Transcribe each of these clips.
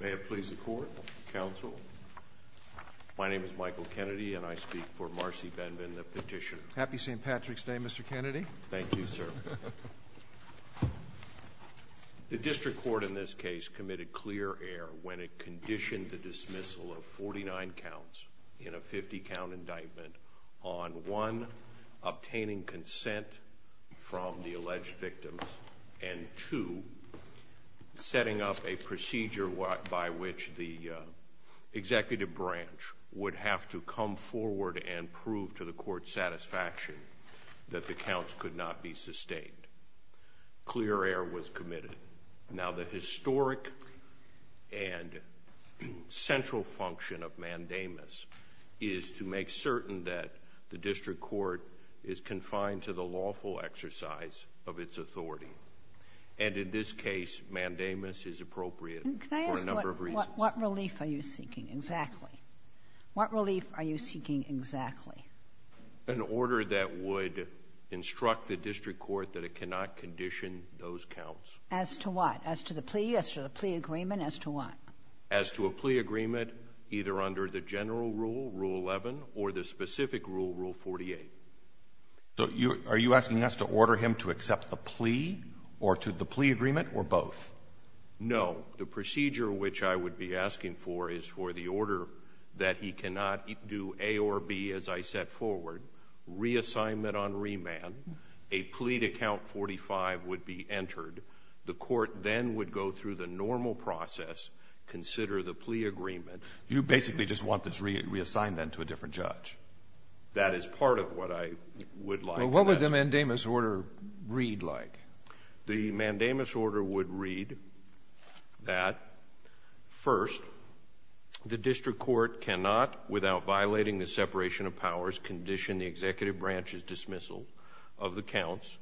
May it please the court, counsel. My name is Michael Kennedy and I speak for Marcy Benvin, the petitioner. Happy St. Patrick's Day, Mr. Kennedy. Thank you, sir. The district court in this case committed clear error when it conditioned the dismissal of 49 counts in a 50 count indictment on, one, obtaining consent from the alleged victims, and two, setting up a procedure by which the executive branch would have to come forward and prove to the court's satisfaction that the counts could not be sustained. Clear error was committed. Now the historic and central function of mandamus is to make certain that the district court is confined to the lawful exercise of its authority. And in this case, mandamus is appropriate for a number of reasons. What relief are you seeking exactly? What relief are you seeking exactly? An order that would instruct the district court that it cannot condition those counts. As to what? As to the plea? As to the plea agreement? As to what? As to a plea agreement, either under the general rule, Rule 11, or the specific rule, Rule 48. So are you asking us to order him to accept the plea, or to the plea agreement, or both? No. The procedure which I would be asking for is for the order that he cannot do A or B as I set forward, reassignment on remand, a plea to count 45 would be entered. The court then would go through the normal process, consider the plea agreement. You basically just want this reassignment to a different judge. That is part of what I would like. Well, what would the mandamus order read like? The mandamus order would read that, first, the district court cannot, without violating the separation of powers, condition the executive branch's dismissal of the counts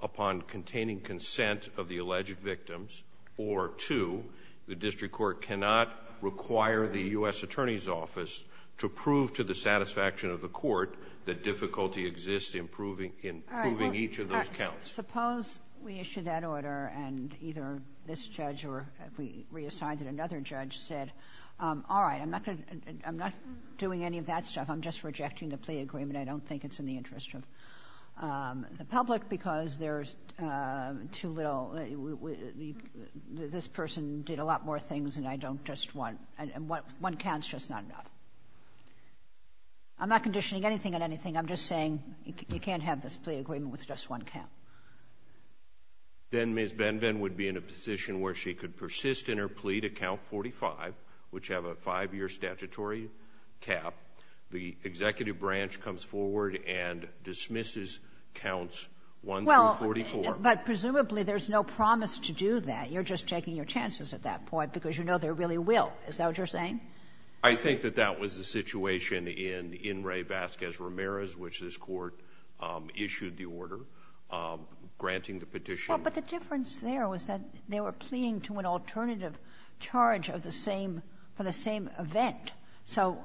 upon containing consent of the alleged victims, or, two, the district court cannot require the U.S. Attorney's Office to prove to the satisfaction of the court that difficulty exists in proving each of those counts. Suppose we issue that order, and either this judge or we reassign to another judge said, all right, I'm not going to do any of that stuff. I'm just rejecting the plea agreement. I don't think it's in the interest of the public, because there's too little – this person did a lot more things, and I don't just want – and one count's just not enough. I'm not conditioning anything on anything. I'm just saying you can't have this plea agreement with just one count. Then Ms. Benven would be in a position where she could persist in her plea to count 45, which have a five-year statutory cap. The executive branch comes forward and dismisses counts 1 through 44. Well, but presumably there's no promise to do that. You're just taking your chances at that point, because you know there really will. Is that what you're saying? I think that that was the situation in In re Vazquez-Ramirez, which this court issued the order, granting the petition. Well, but the difference there was that they were pleading to an alternative charge for the same event, so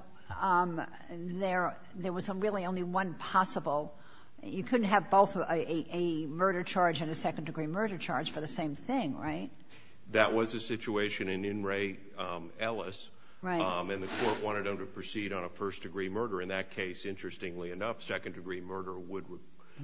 there was really only one possible – you couldn't have both a murder charge and a second-degree murder charge for the same thing, right? That was the situation in In re Ellis, and the court wanted him to proceed on a first-degree murder. In that case, interestingly enough, second-degree murder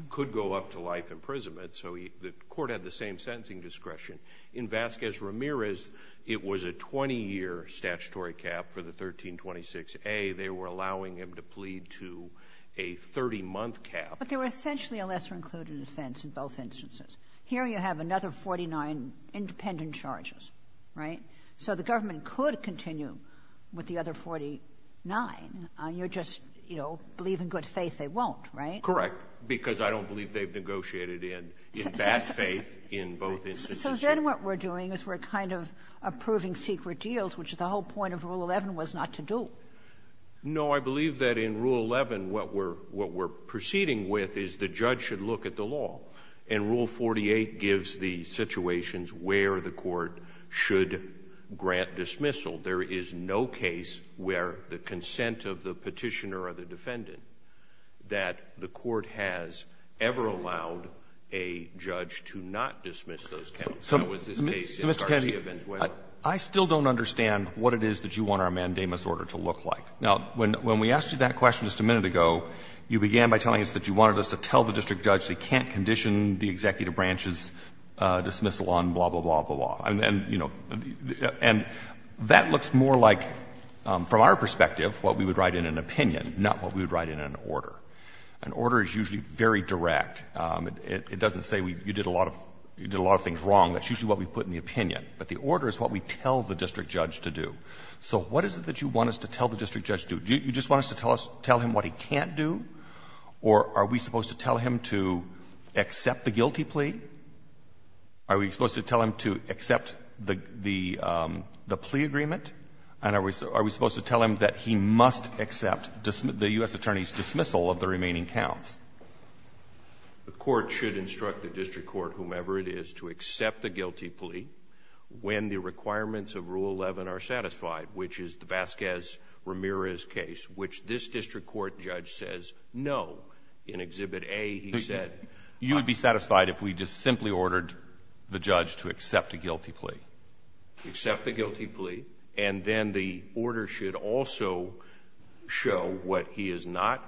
could go up to life imprisonment, so the court had the same sentencing discretion. In Vazquez-Ramirez, it was a 20-year statutory cap for the 1326a. They were allowing him to plead to a 30-month cap. But there were essentially a lesser-included offense in both instances. Here you have another 49 independent charges, right? So the government could continue with the other 49. You're just, you know, believe in good faith they won't, right? Correct. Because I don't believe they've negotiated in bad faith in both instances. So then what we're doing is we're kind of approving secret deals, which the whole point of Rule 11 was not to do. No. I believe that in Rule 11 what we're proceeding with is the judge should look at the law, and Rule 48 gives the situations where the court should grant dismissal. There is no case where the consent of the Petitioner or the Defendant that the court has ever allowed a judge to not dismiss those counts. So in this case, if Garcia v. Weyler. So, Mr. Kennedy, I still don't understand what it is that you want our mandamus order to look like. Now, when we asked you that question just a minute ago, you began by telling us that you wanted us to tell the district judge they can't condition the executive branch's dismissal on blah, blah, blah, blah, and then, you know, and that looks more like, from our perspective, what we would write in an opinion, not what we would write in an order. An order is usually very direct. It doesn't say you did a lot of things wrong. That's usually what we put in the opinion. But the order is what we tell the district judge to do. So what is it that you want us to tell the district judge to do? Do you just want us to tell him what he can't do, or are we supposed to tell him to accept the guilty plea? Are we supposed to tell him to accept the plea agreement, and are we supposed to tell him that he must accept the U.S. attorney's dismissal of the remaining counts? The court should instruct the district court, whomever it is, to accept the guilty plea when the requirements of Rule 11 are satisfied, which is the Vasquez-Ramirez case, which this district court judge says no. In Exhibit A, he said you would be satisfied if we just simply ordered the judge to accept a guilty plea. Accept the guilty plea, and then the order should also show what he is not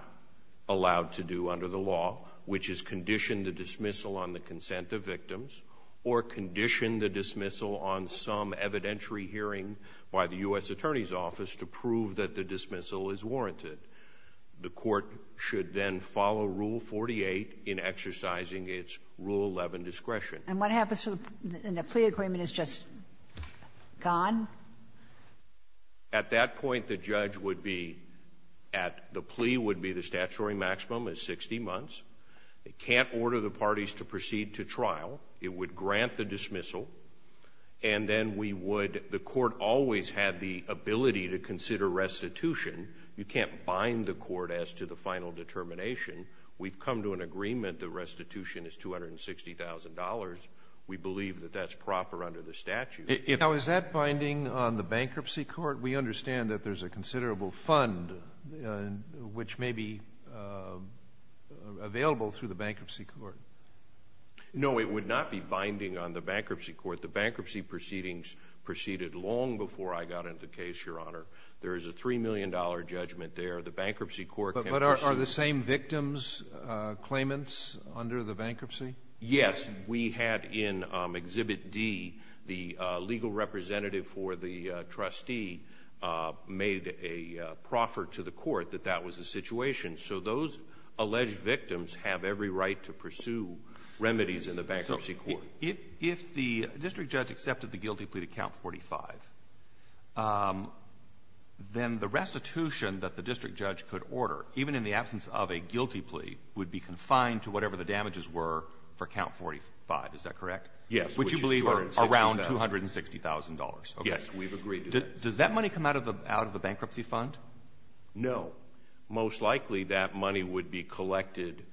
allowed to do under the law, which is condition the dismissal on the consent of victims, or condition the dismissal on some evidentiary hearing by the U.S. attorney's office to prove that the dismissal is warranted. The court should then follow Rule 48 in exercising its Rule 11 discretion. And what happens when the plea agreement is just gone? At that point, the judge would be at the plea would be the statutory maximum is 60 months. It can't order the parties to proceed to trial. It would grant the dismissal. And then we would the court always had the ability to consider restitution. You can't bind the court as to the final determination. We've come to an agreement that restitution is $260,000. We believe that that's proper under the statute. Now, is that binding on the bankruptcy court? We understand that there's a considerable fund which may be available through the bankruptcy court. No, it would not be binding on the bankruptcy court. The bankruptcy proceedings proceeded long before I got into the case, Your Honor. There is a $3 million judgment there. The bankruptcy court can proceed. Are the same victims' claimants under the bankruptcy? Yes. We had in Exhibit D, the legal representative for the trustee made a proffer to the court that that was the situation. So those alleged victims have every right to pursue remedies in the bankruptcy court. If the district judge accepted the guilty plea to Count 45, then the restitution that the district judge could order, even in the absence of a guilty plea, would be confined to whatever the damages were for Count 45. Is that correct? Yes. Which you believe are around $260,000. Yes, we've agreed to that. Does that money come out of the bankruptcy fund? No. Most likely, that money would be collected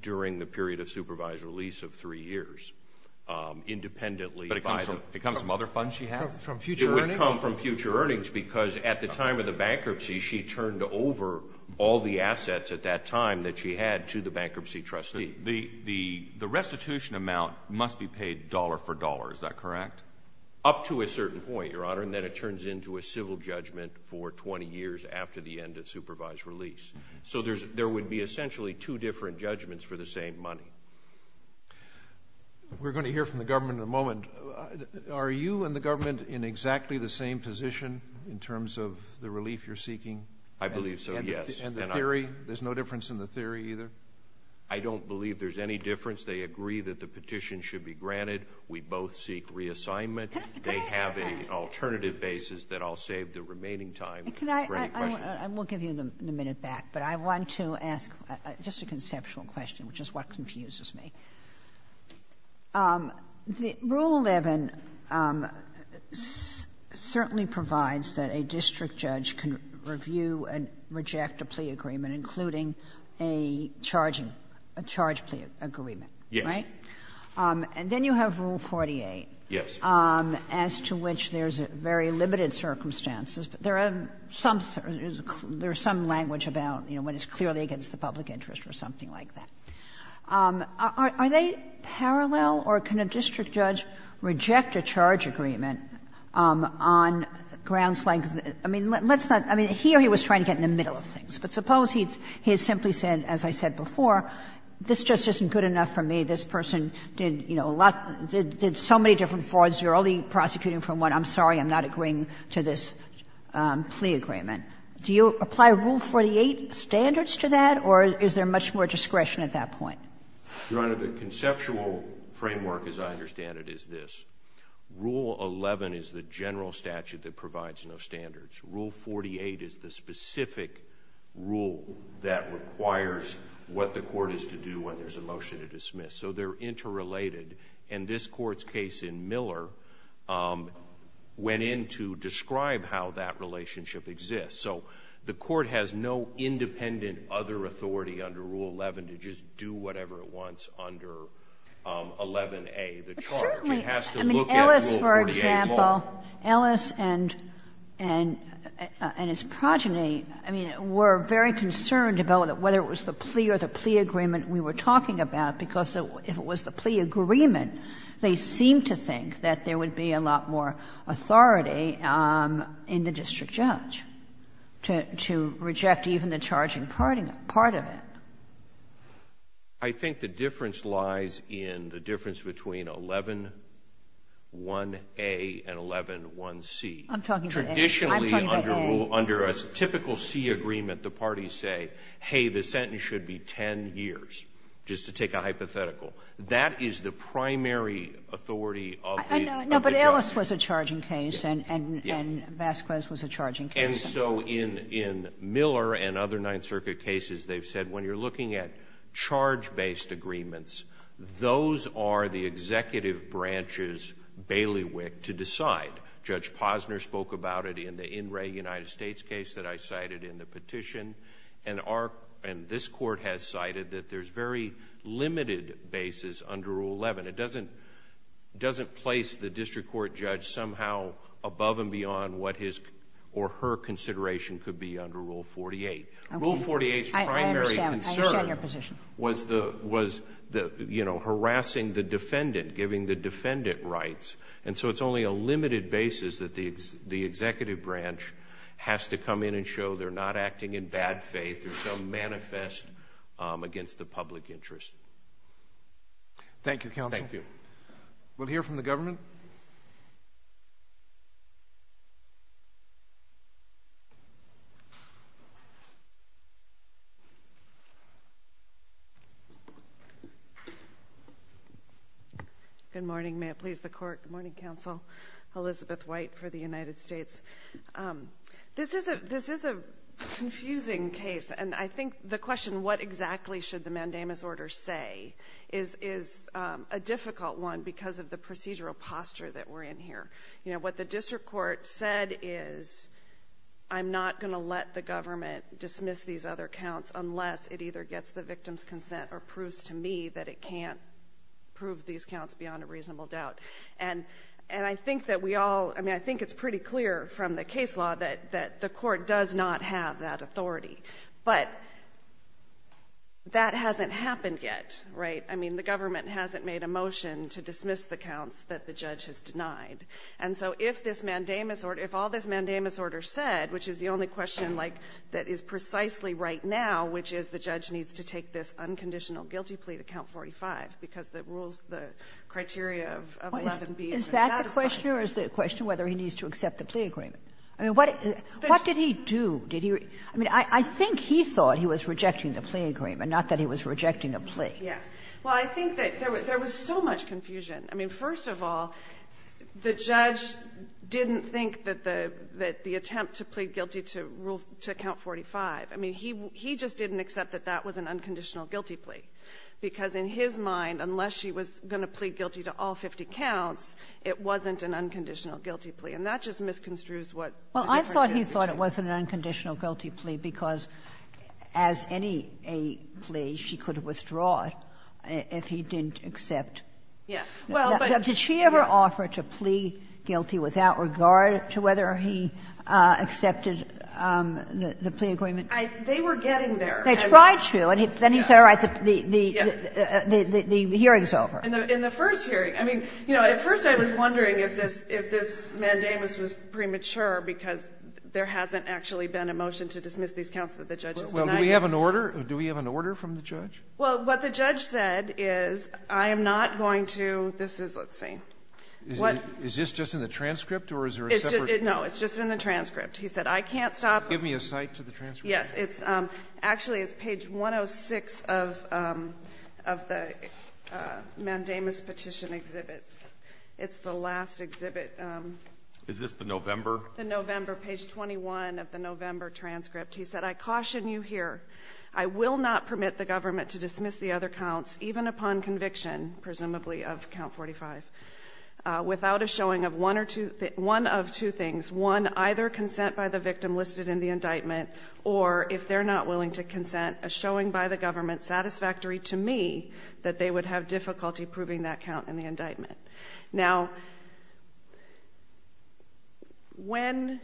during the period of supervised release of three years, independently by the- It comes from other funds she has? From future earnings? Because at the time of the bankruptcy, she turned over all the assets at that time that she had to the bankruptcy trustee. The restitution amount must be paid dollar for dollar, is that correct? Up to a certain point, Your Honor, and then it turns into a civil judgment for 20 years after the end of supervised release. So there would be essentially two different judgments for the same money. We're going to hear from the government in a moment. Are you and the government in exactly the same position in terms of the relief you're seeking? I believe so, yes. And the theory? There's no difference in the theory either? I don't believe there's any difference. They agree that the petition should be granted. We both seek reassignment. They have an alternative basis that I'll save the remaining time for any questions. We'll give you the minute back. But I want to ask just a conceptual question, which is what confuses me. Rule 11 certainly provides that a district judge can review and reject a plea agreement, including a charge plea agreement, right? Yes. And then you have Rule 48. Yes. As to which there's very limited circumstances, but there are some things, there's some language about, you know, when it's clearly against the public interest or something like that. Are they parallel, or can a district judge reject a charge agreement on grounds like, I mean, let's not, I mean, here he was trying to get in the middle of things. But suppose he simply said, as I said before, this just isn't good enough for me. This person did, you know, a lot, did so many different frauds. You're only prosecuting from what I'm sorry, I'm not agreeing to this plea agreement. Do you apply Rule 48 standards to that, or is there much more discretion at that point? Your Honor, the conceptual framework, as I understand it, is this. Rule 11 is the general statute that provides no standards. Rule 48 is the specific rule that requires what the court is to do when there's a motion to dismiss. So they're interrelated. And this court's case in Miller went in to describe how that relationship exists. So the court has no independent other authority under Rule 11 to just do whatever it wants under 11a, the charge. It has to look at Rule 48 more. But certainly, I mean, Ellis, for example, Ellis and his progeny, I mean, were very concerned about whether it was the plea or the plea agreement we were talking about, because if it was the plea agreement, they seemed to think that there would be a lot more authority in the district judge. to reject even the charging part of it. I think the difference lies in the difference between 111a and 111c. I'm talking about a rule under a typical C agreement. The parties say, hey, the sentence should be 10 years, just to take a hypothetical. That is the primary authority of the judge. No, but Ellis was a charging case and Vasquez was a charging case. And so in Miller and other Ninth Circuit cases, they've said when you're looking at charge-based agreements, those are the executive branches' bailiwick to decide. Judge Posner spoke about it in the In Re United States case that I cited in the petition. And this court has cited that there's very limited basis under Rule 11. It doesn't place the district court judge somehow above and beyond what his or her consideration could be under Rule 48. Rule 48's primary concern was harassing the defendant, giving the defendant rights. And so it's only a limited basis that the executive branch has to come in and show they're not acting in bad faith or so manifest against the public interest. Thank you, Counsel. Thank you. We'll hear from the government. Good morning. May it please the Court. Good morning, Counsel. Elizabeth White for the United States. This is a confusing case, and I think the question, what exactly should the mandamus order say, is a difficult one because of the procedural posture that we're in here. You know, what the district court said is, I'm not going to let the government dismiss these other counts unless it either gets the victim's consent or proves to me that it can't prove these counts beyond a reasonable doubt. And I think that we all, I mean, I think it's pretty clear from the case law that the court does not have that authority. But that hasn't happened yet, right? I mean, the government hasn't made a motion to dismiss the counts that the judge has denied. And so if this mandamus order, if all this mandamus order said, which is the only question, like, that is precisely right now, which is the judge needs to take this Is that the question or is the question whether he needs to accept the plea agreement? I mean, what did he do? Did he really? I mean, I think he thought he was rejecting the plea agreement, not that he was rejecting a plea. Yeah. Well, I think that there was so much confusion. I mean, first of all, the judge didn't think that the attempt to plead guilty to count 45, I mean, he just didn't accept that that was an unconditional guilty plea, because in his mind, unless she was going to plead guilty to all 50 counts, it wasn't an unconditional guilty plea. And that just misconstrues what the difference is between them. Well, I thought he thought it wasn't an unconditional guilty plea because, as any plea, she could withdraw it if he didn't accept. Yes. Did she ever offer to plea guilty without regard to whether he accepted the plea agreement? They were getting there. They tried to. And then he said, all right, the hearing is over. In the first hearing, I mean, you know, at first I was wondering if this mandamus was premature because there hasn't actually been a motion to dismiss these counts that the judge has denied. Well, do we have an order? Do we have an order from the judge? Well, what the judge said is, I am not going to do this is, let's see. Is this just in the transcript or is there a separate? No, it's just in the transcript. He said, I can't stop. Give me a cite to the transcript. Yes. It's actually, it's page 106 of the mandamus petition exhibit. It's the last exhibit. Is this the November? The November, page 21 of the November transcript. He said, I caution you here. I will not permit the government to dismiss the other counts, even upon conviction, presumably of count 45, without a showing of one of two things. One, either consent by the victim listed in the indictment, or if they're not willing to consent, a showing by the government satisfactory to me that they would have difficulty proving that count in the indictment. Now, when,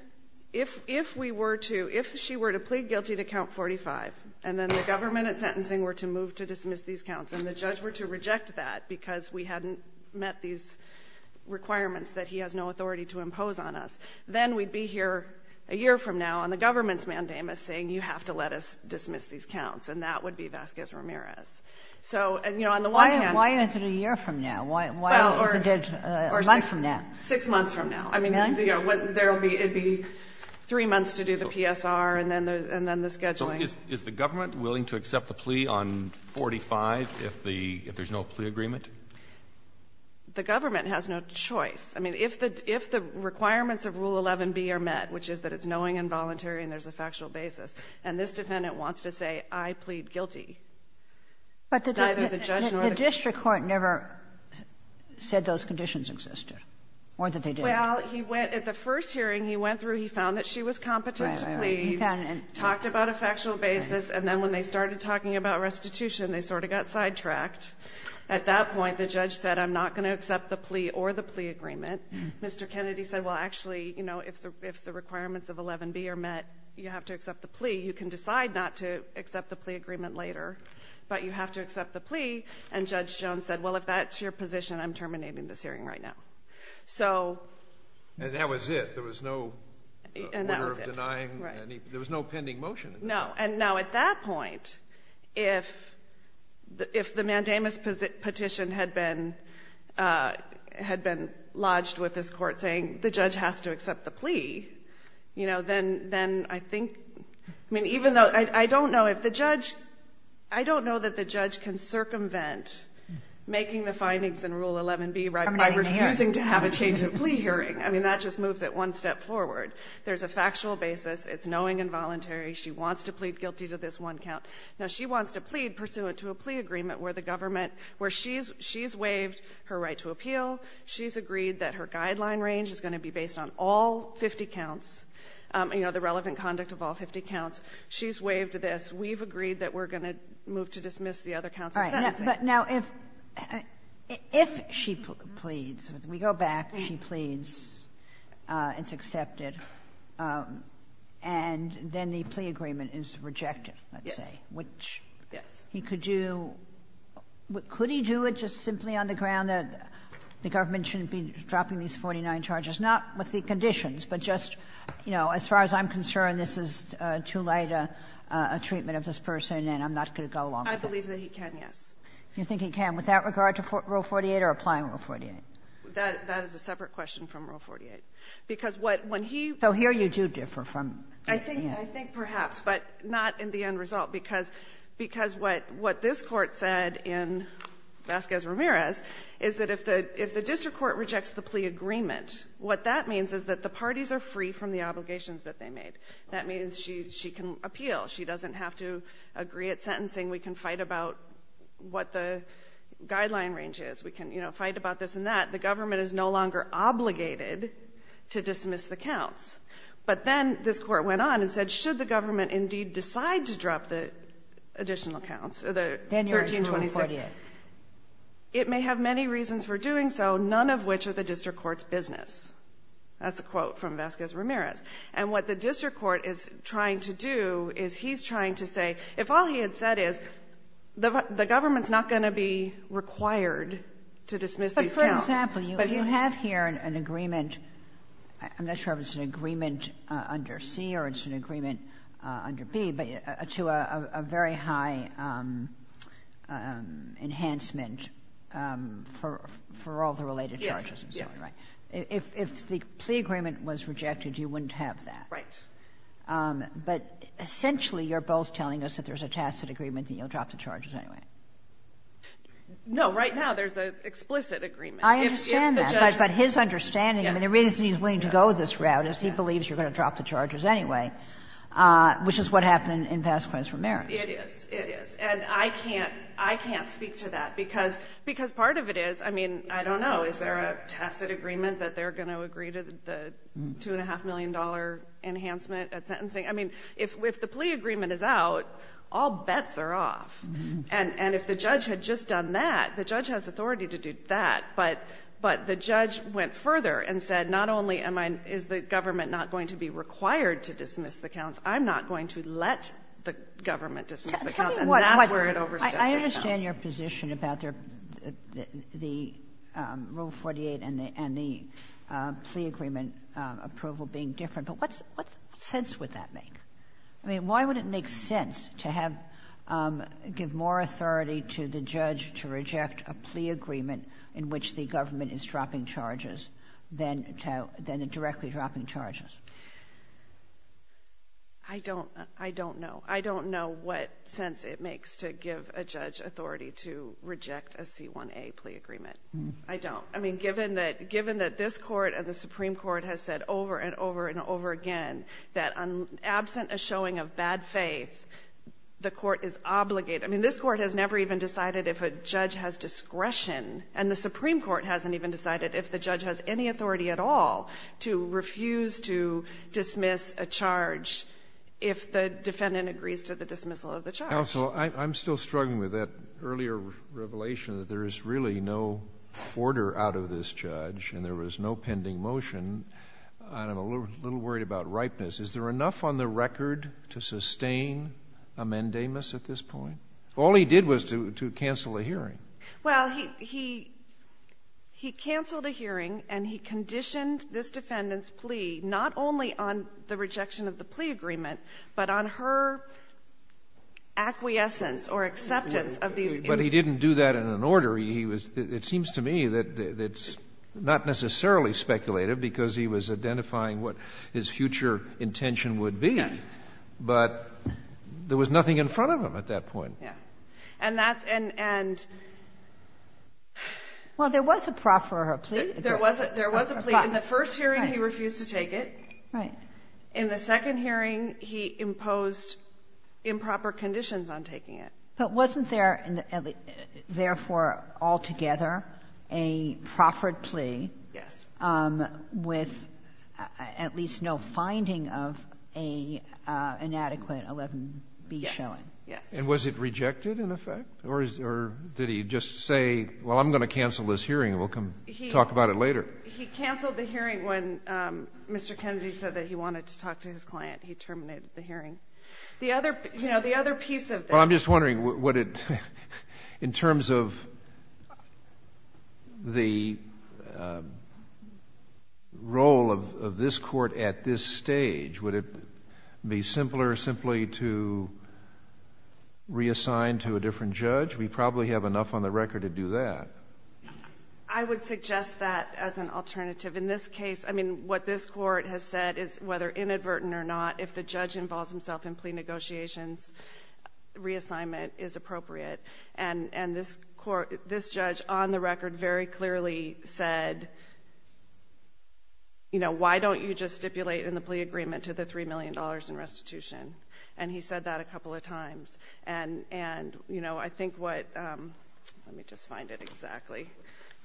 if we were to, if she were to plead guilty to count 45 and then the government at sentencing were to move to dismiss these counts and the judge were to reject that because we hadn't met these requirements that he has no authority to impose on us, then we'd be here a year from now on the government's mandamus saying you have to let us dismiss these counts. And that would be Vasquez-Ramirez. So, you know, on the one hand why is it a year from now? Why is it a month from now? Six months from now. I mean, there will be, it would be three months to do the PSR and then the scheduling. Is the government willing to accept the plea on 45 if the, if there's no plea agreement? The government has no choice. I mean, if the, if the requirements of Rule 11b are met, which is that it's knowing and voluntary and there's a factual basis, and this defendant wants to say I plead guilty, neither the judge nor the court. But the district court never said those conditions existed, or that they did. Well, he went, at the first hearing he went through, he found that she was competent to plead, talked about a factual basis, and then when they started talking about restitution, they sort of got sidetracked. At that point, the judge said I'm not going to accept the plea or the plea agreement. Mr. Kennedy said, well, actually, you know, if the requirements of 11b are met, you have to accept the plea. You can decide not to accept the plea agreement later, but you have to accept the plea. And Judge Jones said, well, if that's your position, I'm terminating this hearing right now. So. And that was it. There was no order of denying any, there was no pending motion. No. And now at that point, if the mandamus petition had been lodged with this court saying the judge has to accept the plea, you know, then I think, I mean, even though I don't know if the judge, I don't know that the judge can circumvent making the findings in Rule 11b by refusing to have a change of plea hearing. I mean, that just moves it one step forward. There's a factual basis. It's knowing and voluntary. She wants to plead guilty to this one count. Now, she wants to plead pursuant to a plea agreement where the government, where she's waived her right to appeal. She's agreed that her guideline range is going to be based on all 50 counts, you know, the relevant conduct of all 50 counts. She's waived this. We've agreed that we're going to move to dismiss the other counts. It's that simple. Kagan. But now, if she pleads, we go back, she pleads, it's accepted, and then the plea agreement is rejected, let's say, which he could do. Could he do it just simply on the ground that the government shouldn't be dropping these 49 charges, not with the conditions, but just, you know, as far as I'm concerned, this is too late a treatment of this person, and I'm not going to go along with it. I believe that he can, yes. Do you think he can without regard to Rule 48 or applying Rule 48? That is a separate question from Rule 48. Because what, when he So here you do differ from I think perhaps, but not in the end result. Because what this Court said in Vasquez-Ramirez is that if the district court rejects the plea agreement, what that means is that the parties are free from the obligations that they made. That means she can appeal. She doesn't have to agree at sentencing. We can fight about what the guideline range is. We can, you know, fight about this and that. The government is no longer obligated to dismiss the counts. But then this Court went on and said, should the government indeed decide to drop the additional counts, the 1326, it may have many reasons for doing so, none of which are the district court's business. That's a quote from Vasquez-Ramirez. And what the district court is trying to do is he's trying to say, if all he had said is the government's not going to be required to dismiss these counts. But you have here an agreement, I'm not sure if it's an agreement under C or it's an agreement under B, but to a very high enhancement for all the related charges. Yes, yes. If the plea agreement was rejected, you wouldn't have that. Right. But essentially, you're both telling us that there's a tacit agreement and you'll drop the charges anyway. No, right now there's an explicit agreement. I understand that, but his understanding, the reason he's willing to go this route is he believes you're going to drop the charges anyway, which is what happened in Vasquez-Ramirez. It is, it is. And I can't speak to that, because part of it is, I mean, I don't know, is there a tacit agreement that they're going to agree to the $2.5 million enhancement at sentencing? I mean, if the plea agreement is out, all bets are off. And if the judge had just done that, the judge has authority to do that. But the judge went further and said, not only is the government not going to be required to dismiss the counts, I'm not going to let the government dismiss the counts, and that's where it overstretched the counts. I understand your position about the Rule 48 and the plea agreement approval being different, but what sense would that make? I mean, why would it make sense to have to give more authority to the judge to reject a plea agreement in which the government is dropping charges than directly dropping charges? I don't know. I don't know what sense it makes to give a judge authority to reject a C-1A plea agreement. I don't. I mean, given that this Court and the Supreme Court has said over and over and over again that absent a showing of bad faith, the Court is obligated. I mean, this Court has never even decided if a judge has discretion, and the Supreme Court hasn't even decided if the judge has any authority at all to refuse to dismiss a charge if the defendant agrees to the dismissal of the charge. Counsel, I'm still struggling with that earlier revelation that there is really no order out of this judge, and there was no pending motion, and I'm a little worried about ripeness. Is there enough on the record to sustain amendamus at this point? All he did was to cancel a hearing. Well, he canceled a hearing, and he conditioned this defendant's plea not only on the rejection of the plea agreement, but on her acquiescence or acceptance of the agreement. But he didn't do that in an order. He was — it seems to me that it's not necessarily speculative because he was identifying what his future intention would be. Yes. But there was nothing in front of him at that point. Yes. And that's — and — and — Well, there was a proffer or a plea. There was a — there was a plea. In the first hearing, he refused to take it. Right. In the second hearing, he imposed improper conditions on taking it. But wasn't there, therefore, altogether a proffered plea? Yes. With at least no finding of a inadequate 11b showing. Yes. And was it rejected, in effect? Or is — or did he just say, well, I'm going to cancel this hearing, and we'll come talk about it later? He canceled the hearing when Mr. Kennedy said that he wanted to talk to his client. He terminated the hearing. The other — you know, the other piece of this — Well, I'm just wondering, would it — in terms of the role of this Court at this stage, would it be simpler simply to reassign to a different judge? We probably have enough on the record to do that. I would suggest that as an alternative. In this case, I mean, what this Court has said is, whether inadvertent or not, if the judge involves himself in plea negotiations, reassignment is appropriate. And this Court — this judge, on the record, very clearly said, you know, why don't you just stipulate in the plea agreement to the $3 million in restitution? And he said that a couple of times. And, you know, I think what — let me just find it exactly —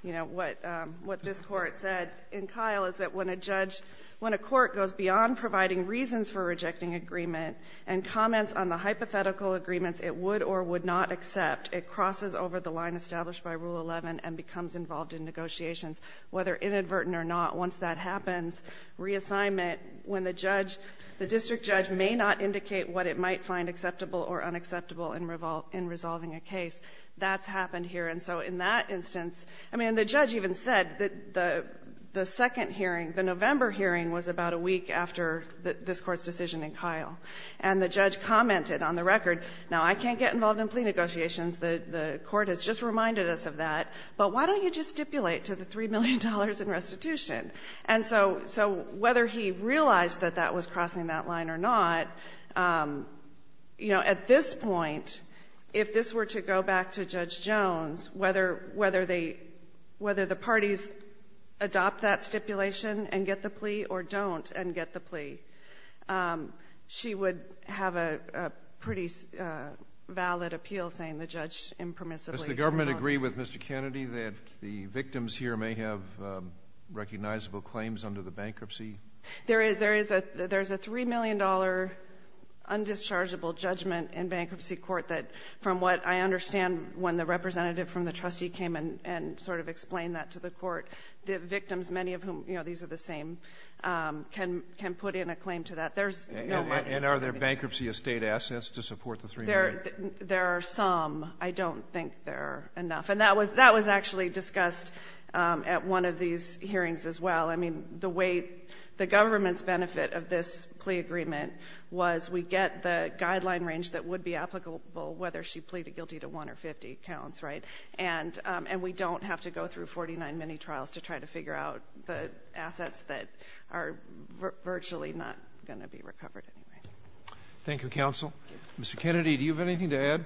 you know, what this Court said in Kyle is that when a judge — when a court goes beyond providing reasons for rejecting agreement and comments on the hypothetical agreements it would or would not accept, it crosses over the line established by Rule 11 and becomes involved in negotiations, whether inadvertent or not. Once that happens, reassignment, when the judge — the district judge may not indicate what it might find acceptable or unacceptable in resolving a case, that's happened here. And so in that instance — I mean, and the judge even said that the second hearing, the November hearing, was about a week after this Court's decision in Kyle. And the judge commented on the record, now, I can't get involved in plea negotiations. The Court has just reminded us of that. But why don't you just stipulate to the $3 million in restitution? And so — so whether he realized that that was crossing that line or not, you know, at this point, if this were to go back to Judge Jones, whether — whether they — whether the parties adopt that stipulation and get the plea or don't and get the plea, she would have a pretty valid appeal saying the judge impermissibly — Does the government agree with Mr. Kennedy that the victims here may have recognizable claims under the bankruptcy? There is — there is a — there's a $3 million undischargeable judgment in bankruptcy court that, from what I understand, when the representative from the trustee came and sort of explained that to the Court, the victims, many of whom, you know, these are the same, can put in a claim to that. There's no — And are there bankruptcy estate assets to support the $3 million? There are some. I don't think there are enough. And that was — that was actually discussed at one of these hearings as well. I mean, the way — the government's benefit of this plea agreement was we get the guideline range that would be applicable whether she pleaded guilty to one or 50 counts, right? And we don't have to go through 49 mini-trials to try to figure out the assets that are virtually not going to be recovered anyway. Thank you, counsel. Mr. Kennedy, do you have anything to add?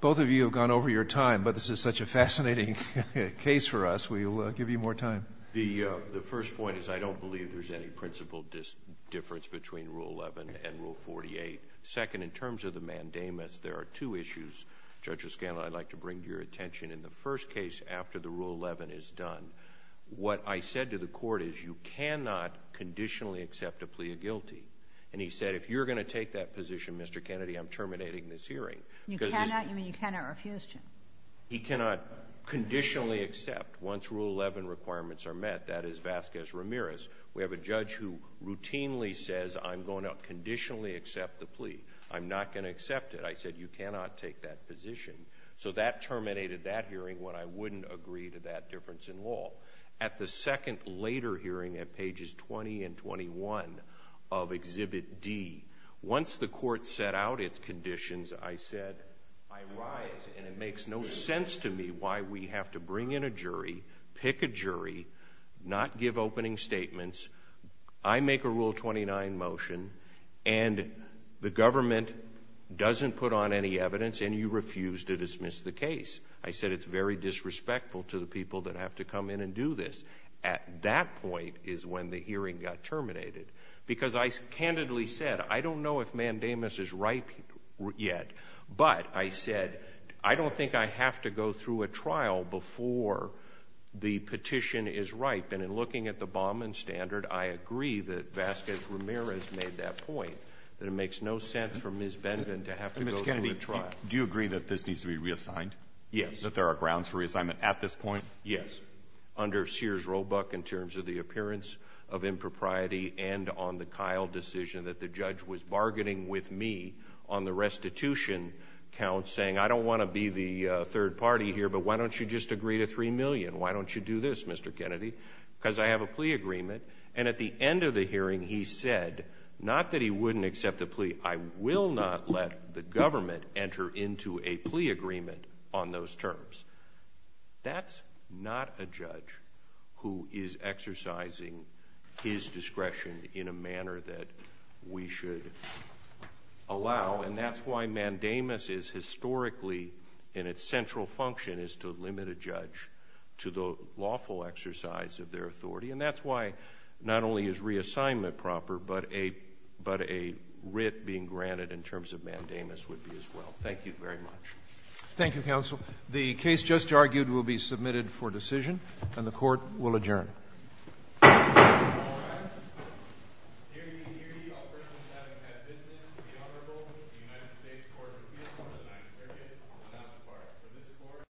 Both of you have gone over your time, but this is such a fascinating case for us. We'll give you more time. The first point is I don't believe there's any principle difference between Rule 11 and Rule 48. Second, in terms of the mandamus, there are two issues, Judge O'Scanlan, I'd like to bring to your attention. In the first case, after the Rule 11 is done, what I said to the Court is you cannot conditionally accept a plea of guilty. And he said, if you're going to take that position, Mr. Kennedy, I'm terminating this hearing. You cannot? You mean you cannot refuse to? He cannot conditionally accept, once Rule 11 requirements are met, that is Vasquez-Ramirez. We have a judge who routinely says, I'm going to conditionally accept the plea. I'm not going to accept it. I said, you cannot take that position. So that terminated that hearing when I wouldn't agree to that difference in law. At the second later hearing at pages 20 and 21 of Exhibit D, once the Court set out its conditions, I said, I rise and it makes no sense to me why we have to bring in a jury, pick a jury, not give opening statements. I make a Rule 29 motion and the government doesn't put on any evidence and you refuse to dismiss the case. I said it's very disrespectful to the people that have to come in and do this. At that point is when the hearing got terminated. Because I candidly said, I don't know if Mandamus is ripe yet, but I said, I don't think I have to go through a trial before the petition is ripe. And in looking at the Baumann standard, I agree that Vasquez-Ramirez made that point, that it makes no sense for Ms. Benven to have to go through a trial. Do you agree that this needs to be reassigned? Yes. That there are grounds for reassignment at this point? Yes. I agree under Sears-Robuck in terms of the appearance of impropriety and on the Kyle decision that the judge was bargaining with me on the restitution count saying, I don't want to be the third party here, but why don't you just agree to $3 million? Why don't you do this, Mr. Kennedy? Because I have a plea agreement. And at the end of the hearing, he said, not that he wouldn't accept the plea, I will not let the government enter into a plea agreement on those terms. That's not a judge who is exercising his discretion in a manner that we should allow. And that's why mandamus is historically, and its central function is to limit a judge to the lawful exercise of their authority. And that's why not only is reassignment proper, but a writ being granted in terms of mandamus would be as well. Thank you very much. Thank you, counsel. The case just argued will be submitted for decision, and the court will adjourn.